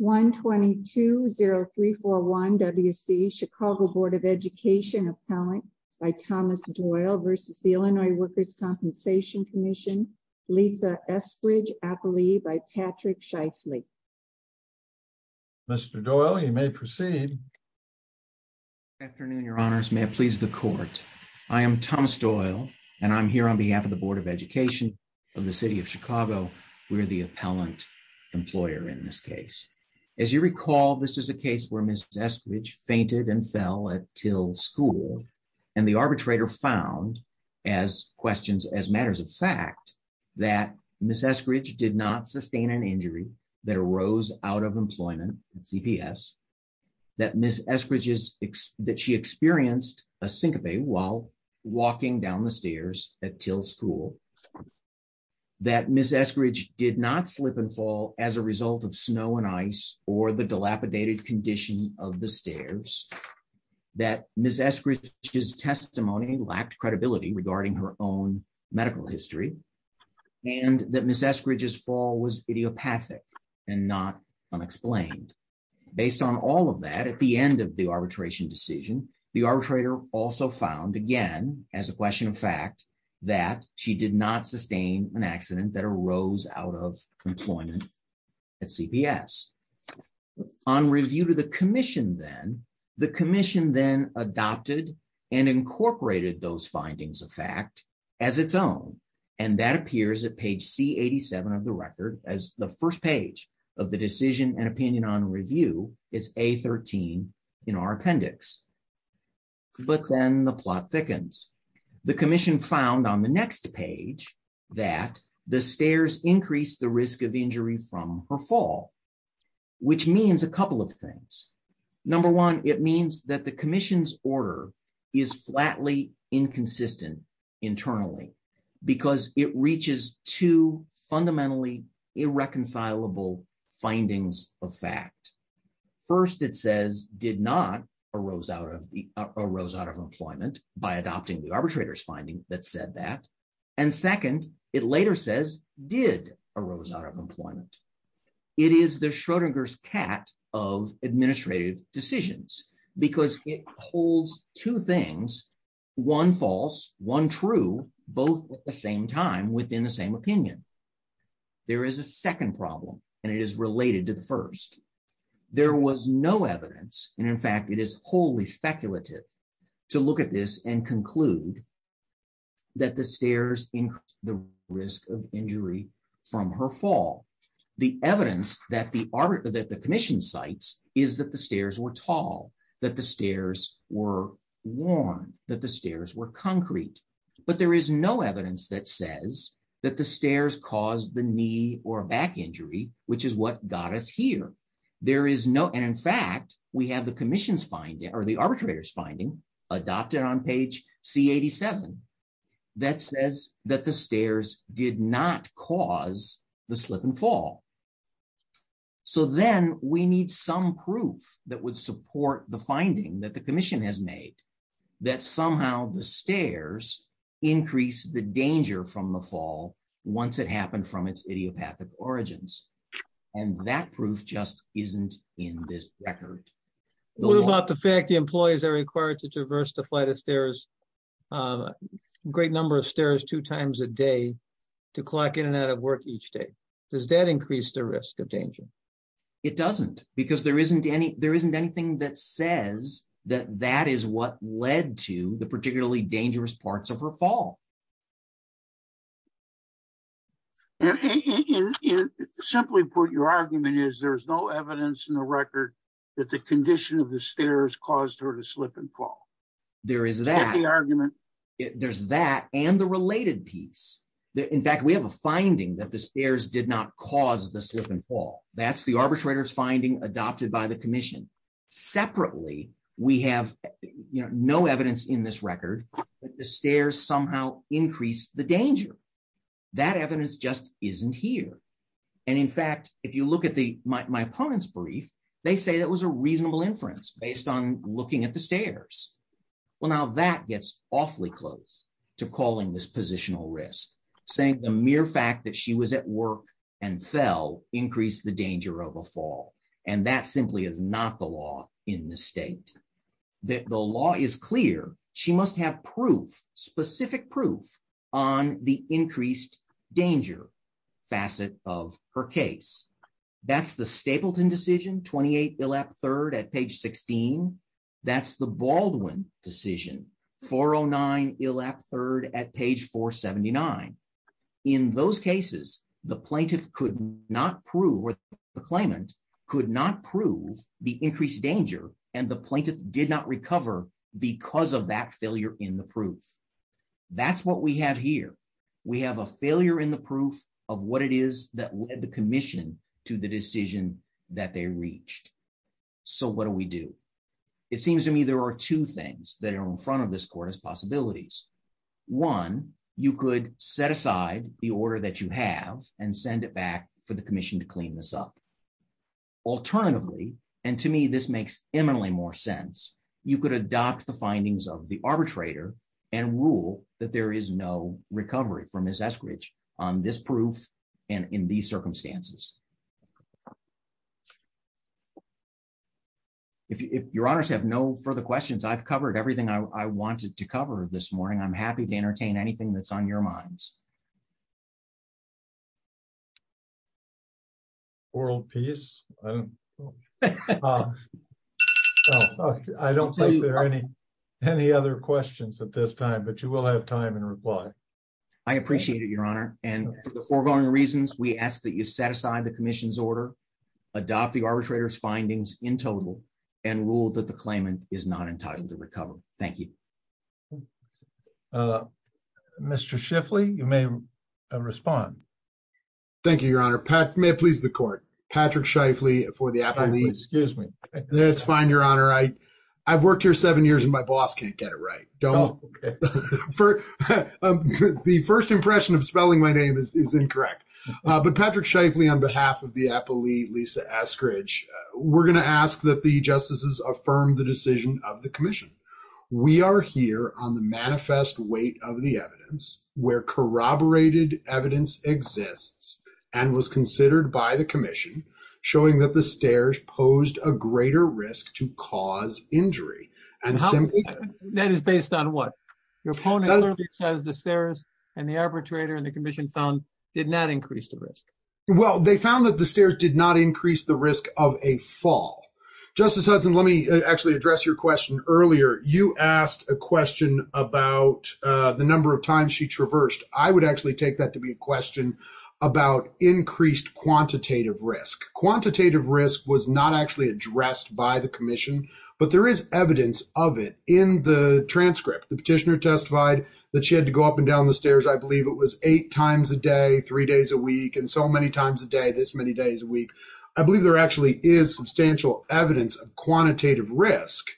1-220-341-WC Chicago Board of Education Appellant by Thomas Doyle v. Illinois Workers' Compensation Comm'n Lisa Eskridge Appellee by Patrick Scheifele Mr. Doyle, you may proceed. Afternoon, your honors. May it please the court. I am Thomas Doyle, and I'm here on behalf of the Board of Education of the City of Chicago. We're the appellant employer in this As you recall, this is a case where Ms. Eskridge fainted and fell at Till School, and the arbitrator found, as questions as matters of fact, that Ms. Eskridge did not sustain an injury that arose out of employment at CPS, that Ms. Eskridge experienced a syncope while walking down the stairs at Till School, that Ms. Eskridge did not slip and fall as a result of snow and ice or the dilapidated condition of the stairs, that Ms. Eskridge's testimony lacked credibility regarding her own medical history, and that Ms. Eskridge's fall was idiopathic and not unexplained. Based on all of that, at the end of the arbitration decision, the arbitrator also found, again, as a question of fact, that she did not sustain an accident that arose out of employment at CPS. On review to the commission then, the commission then adopted and incorporated those findings of fact as its own, and that appears at page C87 of the record as the first page of the decision and opinion on review, it's A13 in our appendix. But then the plot thickens. The commission found on the next page that the stairs increased the risk of injury from her fall, which means a couple of things. Number one, it means that the commission's order is flatly inconsistent internally because it reaches two fundamentally irreconcilable findings of fact. First, it says did not arose out of employment by adopting the arbitrator's finding that said that, and second, it later says did arose out of employment. It is the Schrodinger's cat of administrative decisions because it holds two things, one false, one true, both at the same time within the same opinion. There is a second problem, and it is related to the first. There was no evidence, and in fact, it is wholly speculative to look at this and conclude that the stairs increased the risk of injury from her fall. The evidence that the commission cites is that the stairs were tall, that the stairs were worn, that the stairs were concrete, but there is no evidence that says that the stairs caused the knee or back injury, which is what got us here. There is no, and in fact, we have the arbitrator's finding adopted on page C87 that says that the stairs did not cause the slip and fall, so then we need some proof that would support the finding that the commission has made that somehow the stairs increase the danger from the fall once it happened from its idiopathic origins, and that proof just isn't in this record. What about the fact the employees are required to traverse the flight of stairs, a great number of stairs two times a day to collect in and out of each day. Does that increase the risk of danger? It doesn't because there isn't anything that says that that is what led to the particularly dangerous parts of her fall. Simply put, your argument is there's no evidence in the record that the condition of the stairs caused her to slip and fall. There is that. There's that and the related piece. In fact, we have a finding that the stairs did not cause the slip and fall. That's the arbitrator's finding adopted by the commission. Separately, we have no evidence in this record that the stairs somehow increased the danger. That evidence just isn't here, and in fact, if you look at my opponent's brief, they say that was a reasonable inference based on looking at the stairs. Well, now that gets awfully close to calling this positional risk, saying the mere fact that she was at work and fell increased the danger of a fall, and that simply is not the law in the state. The law is clear. She must have proof, specific proof, on the increased danger facet of her case. That's the Stapleton decision, 28 Bill App III at page 16. That's the Baldwin decision, 409 Bill App III at page 479. In those cases, the plaintiff could not prove or the claimant could not prove the increased danger and the plaintiff did not recover because of that failure in the proof. That's what we have here. We have a failure in the proof of what it is that led the commission to the decision that they reached. So what do we do? It seems to me there are two things that are in front of this court as possibilities. One, you could set aside the order that you have and send it back for the commission to clean this up. Alternatively, and to me this makes eminently more sense, you could adopt the findings of the arbitrator and rule that there is no recovery for Ms. Eskridge on this proof and in these circumstances. If your honors have no further questions, I've covered everything I wanted to cover this morning. I'm happy to entertain anything that's on your minds. World peace? I don't think there are any other questions at this time, but you will have time and reply. I appreciate it, your honor, and for the foregoing reasons, we ask that you set aside the commission's order, adopt the arbitrator's findings in total, and rule that the claimant is not entitled to recover. Thank you. Mr. Shifley, you may respond. Thank you, your honor. May it please the court. Patrick Shifley for the appellate. Excuse me. That's fine, your honor. I've worked here seven years and my boss can't get it right. The first impression of spelling my name is incorrect, but Patrick Shifley on behalf of the appellate, Lisa Eskridge, we're going to ask that the justices affirm the decision of the commission. We are here on the manifest weight of the evidence where corroborated evidence exists and was considered by the commission showing that stairs posed a greater risk to cause injury. That is based on what? The stairs and the arbitrator and the commission found did not increase the risk. Well, they found that the stairs did not increase the risk of a fall. Justice Hudson, let me actually address your question earlier. You asked a question about the number of times she traversed. I would actually take that to be a question about increased quantitative risk. Quantitative risk was not actually addressed by the commission, but there is evidence of it in the transcript. The petitioner testified that she had to go up and down the stairs. I believe it was eight times a day, three days a week, and so many times a day, this many days a week. I believe there actually is substantial evidence of quantitative risk,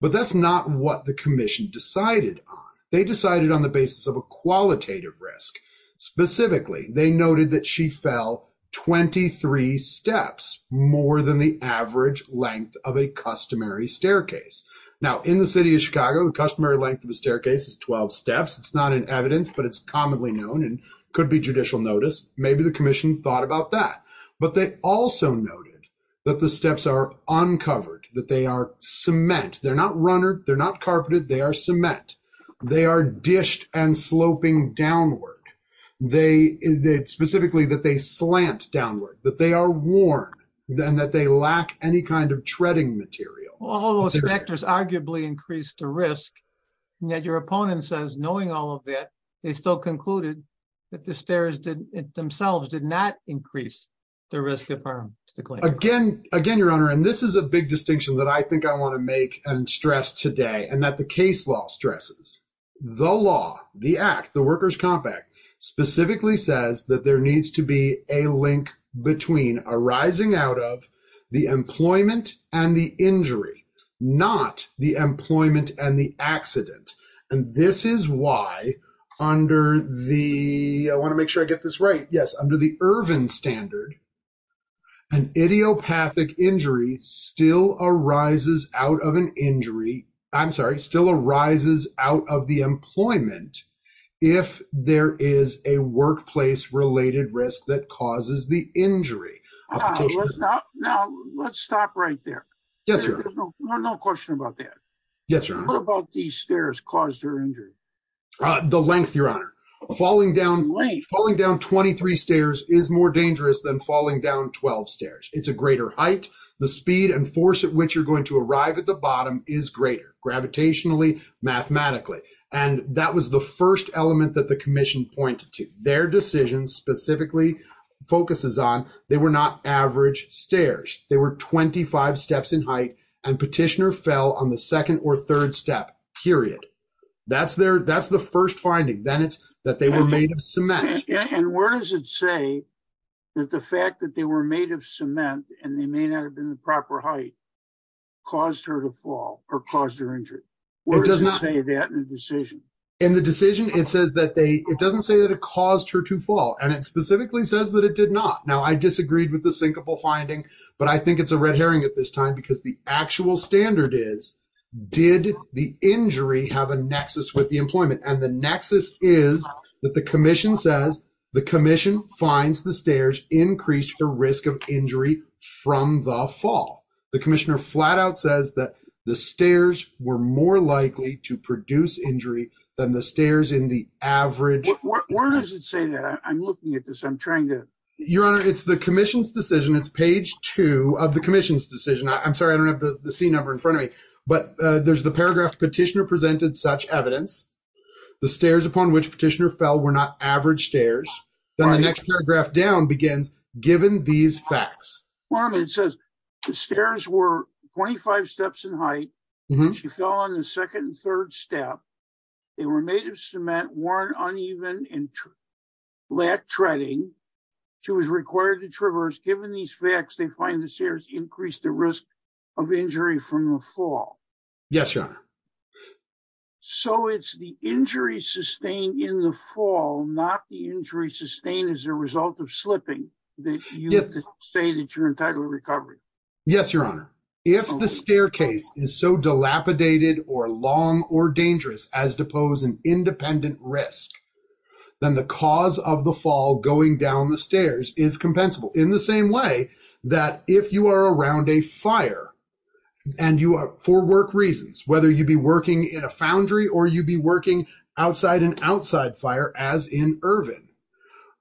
but that's not what the commission decided on. They decided on the basis of a qualitative risk. Specifically, they noted that she fell 23 steps, more than the average length of a customary staircase. Now, in the city of Chicago, the customary length of the staircase is 12 steps. It's not in evidence, but it's commonly known and could be judicial notice. Maybe the commission thought about that, but they also noted that the steps are uncovered, that they are cement. They're not runnered. They're not carpeted. They are dished and sloping downward. Specifically, that they slant downward, that they are worn, and that they lack any kind of treading material. All those factors arguably increase the risk, and yet your opponent says, knowing all of that, they still concluded that the stairs themselves did not increase the risk of harm to the claimant. Again, Your Honor, and this is a big distinction that I think I want to make and stress today, and that the case law stresses. The law, the act, the Workers' Comp Act, specifically says that there needs to be a link between arising out of the employment and the injury, not the employment and the accident. This is why, under the, I want to make sure I get this right, yes, under the Ervin standard, an idiopathic injury still arises out of an injury, I'm sorry, still arises out of the employment if there is a workplace-related risk that causes the injury. Now, let's stop right there. Yes, Your Honor. No question about that. Yes, Your Honor. What about these stairs caused her injury? The length, Your Honor. Falling down 23 stairs is more dangerous than falling down 12 stairs. It's a greater height. The speed and force at which you're going to arrive at the bottom is greater, gravitationally, mathematically, and that was the first element that the commission pointed to. Their decision specifically focuses on they were not average stairs. They were 25 steps in height, and petitioner fell on the second or third step, period. That's the first finding. Then it's that they were made of cement. Where does it say that the fact that they were made of cement and they may not have been the proper height caused her to fall or caused her injury? Where does it say that in the decision? In the decision, it says that they, it doesn't say that it caused her to fall, and it specifically says that it did not. Now, I disagreed with the sinkable finding, but I think it's a red herring at this time because the actual standard is, did the injury have a nexus with the employment? And the nexus is that the commission says, the commission finds the stairs increased the risk of injury from the fall. The commissioner flat out says that the stairs were more likely to produce injury than the stairs in the average. Where does it say that? I'm looking at this. I'm trying to. Your honor, it's the commission's decision. It's page two of the commission's decision. I'm sorry, I don't have the C number in front of me, but there's the paragraph petitioner presented such evidence. The stairs upon which petitioner fell were not average stairs. Then the next paragraph down begins, given these facts. Well, I mean, it says the stairs were 25 steps in height. She fell on the second and third step. They were made of cement, weren't uneven, and lacked treading. She was required to traverse. Given these facts, they find the stairs increased the risk of injury from the fall. Yes, your honor. So it's the injury sustained in the fall, not the injury sustained as a result of slipping, that you say that you're entitled to recovery. Yes, your honor. If the staircase is so dilapidated or long or dangerous as to pose an independent risk, then the cause of the fall going down the fire, and for work reasons, whether you be working in a foundry or you be working outside an outside fire, as in Irvin,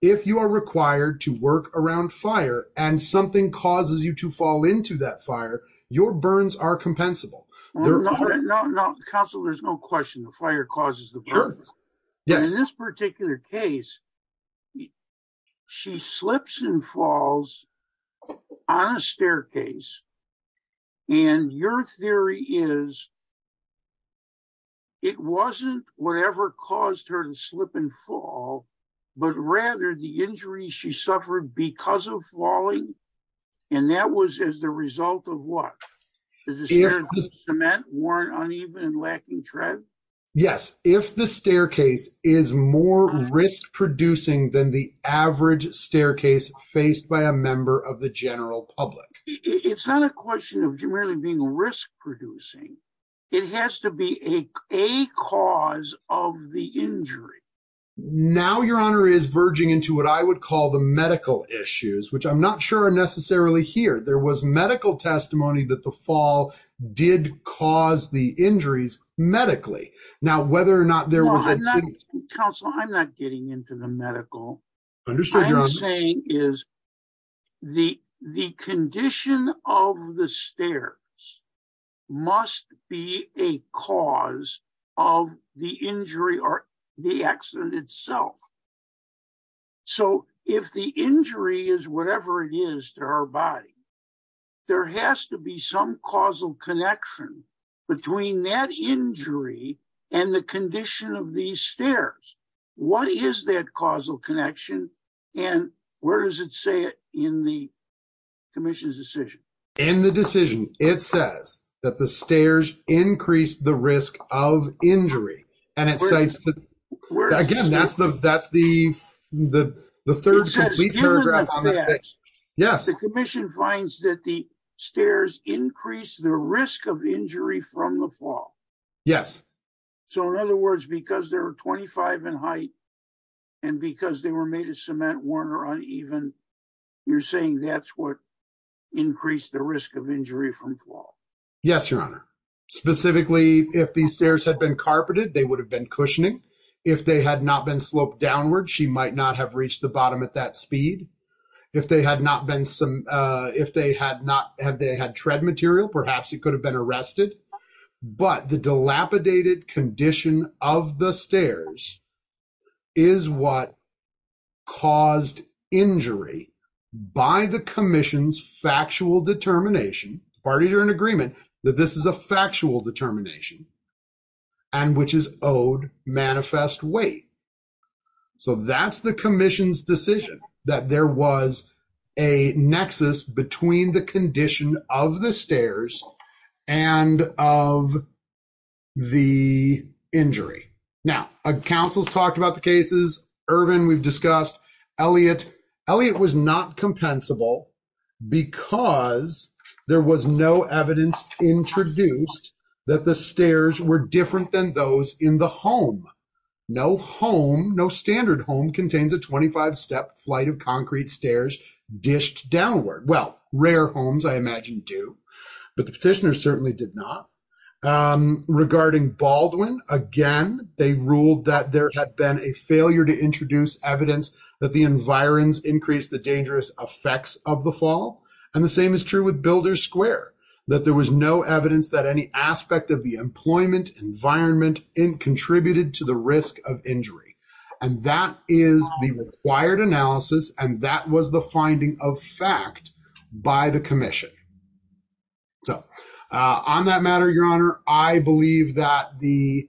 if you are required to work around fire and something causes you to fall into that fire, your burns are compensable. Counsel, there's no question. The fire causes the burns. In this particular case, she slips and falls on a staircase and your theory is it wasn't whatever caused her to slip and fall, but rather the injury she suffered because of falling, and that was as the result of what? The cement weren't uneven and lacking tread? Yes. If the staircase is more risk producing than the average staircase faced by a question of being risk producing, it has to be a cause of the injury. Now your honor is verging into what I would call the medical issues, which I'm not sure are necessarily here. There was medical testimony that the fall did cause the injuries medically. Now whether or not there was Counsel, I'm not getting into the medical. I'm saying is the condition of the stairs must be a cause of the injury or the accident itself. So if the injury is whatever it is to our body, there has to be some causal connection between that injury and the condition of these stairs. What is that causal connection and where does it say it in the commission's decision? In the decision, it says that the stairs increase the risk of injury and it says, again, that's the third paragraph. Yes, the commission finds that the stairs increase the risk of injury from the fall. Yes. So in other words, because there are 25 in height and because they were made of cement weren't uneven, you're saying that's what increased the risk of injury from fall? Yes, your honor. Specifically, if these stairs had been carpeted, they would have been cushioning. If they had not been sloped downward, she might not have reached the bottom at that speed. If they had not been some, if they had not, had they had tread material, perhaps it could have been arrested. But the dilapidated condition of the stairs is what caused injury by the commission's factual determination. Parties are in agreement that this is a factual determination and which is owed manifest weight. So that's the commission's decision that there was a nexus between the condition of the stairs and of the injury. Now, counsel's talked about the cases. Ervin, we've discussed. Elliot, Elliot was not compensable because there was no evidence introduced that the stairs were different than those in the home. No home, no standard home, contains a 25-step flight of concrete stairs dished downward. Well, rare homes I imagine do, but the petitioner certainly did not. Regarding Baldwin, again, they ruled that there had been a failure to introduce evidence that the environs increased the dangerous effects of the fall. And the same is true with Builder Square, that there was no evidence that any aspect of the employment environment contributed to the risk of injury. And that is the required analysis, and that was the finding of fact by the commission. So on that matter, Your Honor, I believe that the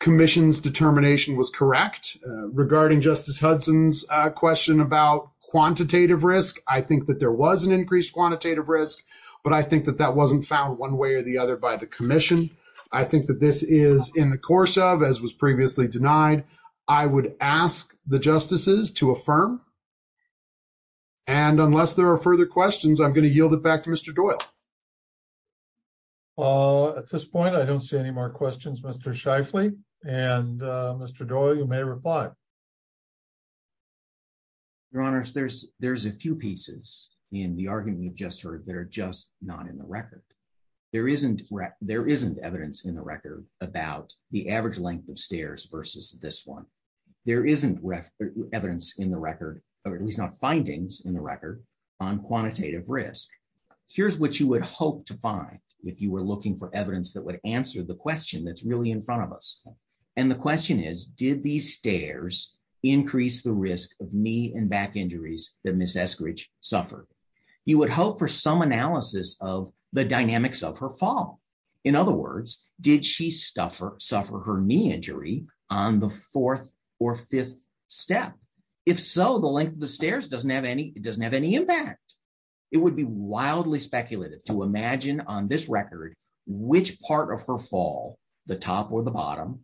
commission's determination was correct. Regarding Justice Hudson's question about quantitative risk, I think that there was an increased quantitative risk, but I think that that wasn't found one way or the other by the commission. I think that this is in the course of, as was previously denied, I would ask the justices to affirm. And unless there are further questions, I'm going to yield it back to Mr. Doyle. At this point, I don't see any more pieces in the argument you've just heard that are just not in the record. There isn't evidence in the record about the average length of stairs versus this one. There isn't evidence in the record, or at least not findings in the record, on quantitative risk. Here's what you would hope to find if you were looking for evidence that would answer the question that's really in front of us. And the question is, did these stairs increase the risk of knee and back injuries that Ms. Eskridge suffered? You would hope for some analysis of the dynamics of her fall. In other words, did she suffer her knee injury on the fourth or fifth step? If so, the length of the stairs doesn't have any impact. It would be wildly speculative to imagine on this record which part of her fall, the top or the bottom,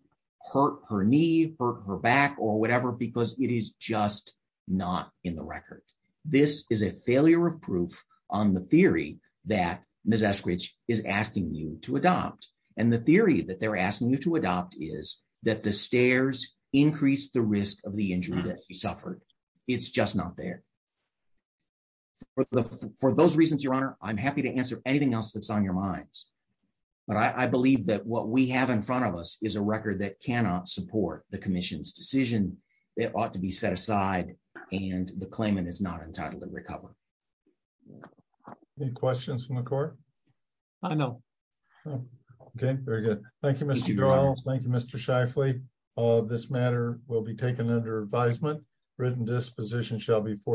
hurt her knee, hurt her back, or whatever, because it is just not in the record. This is a failure of proof on the theory that Ms. Eskridge is asking you to adopt. And the theory that they're asking you to adopt is that the stairs increased the risk of the injury that she suffered. It's just not there. For those reasons, Your Honor, I'm happy to answer anything else that's on your minds. But I believe that what we have in front of us is a record that cannot support the commission's decision. It ought to be set aside, and the claimant is not entitled to recover. Any questions from the court? I know. Okay, very good. Thank you, Mr. Durrell. Thank you, Mr. Shifley. This matter will be taken under advisement. Written disposition shall be forth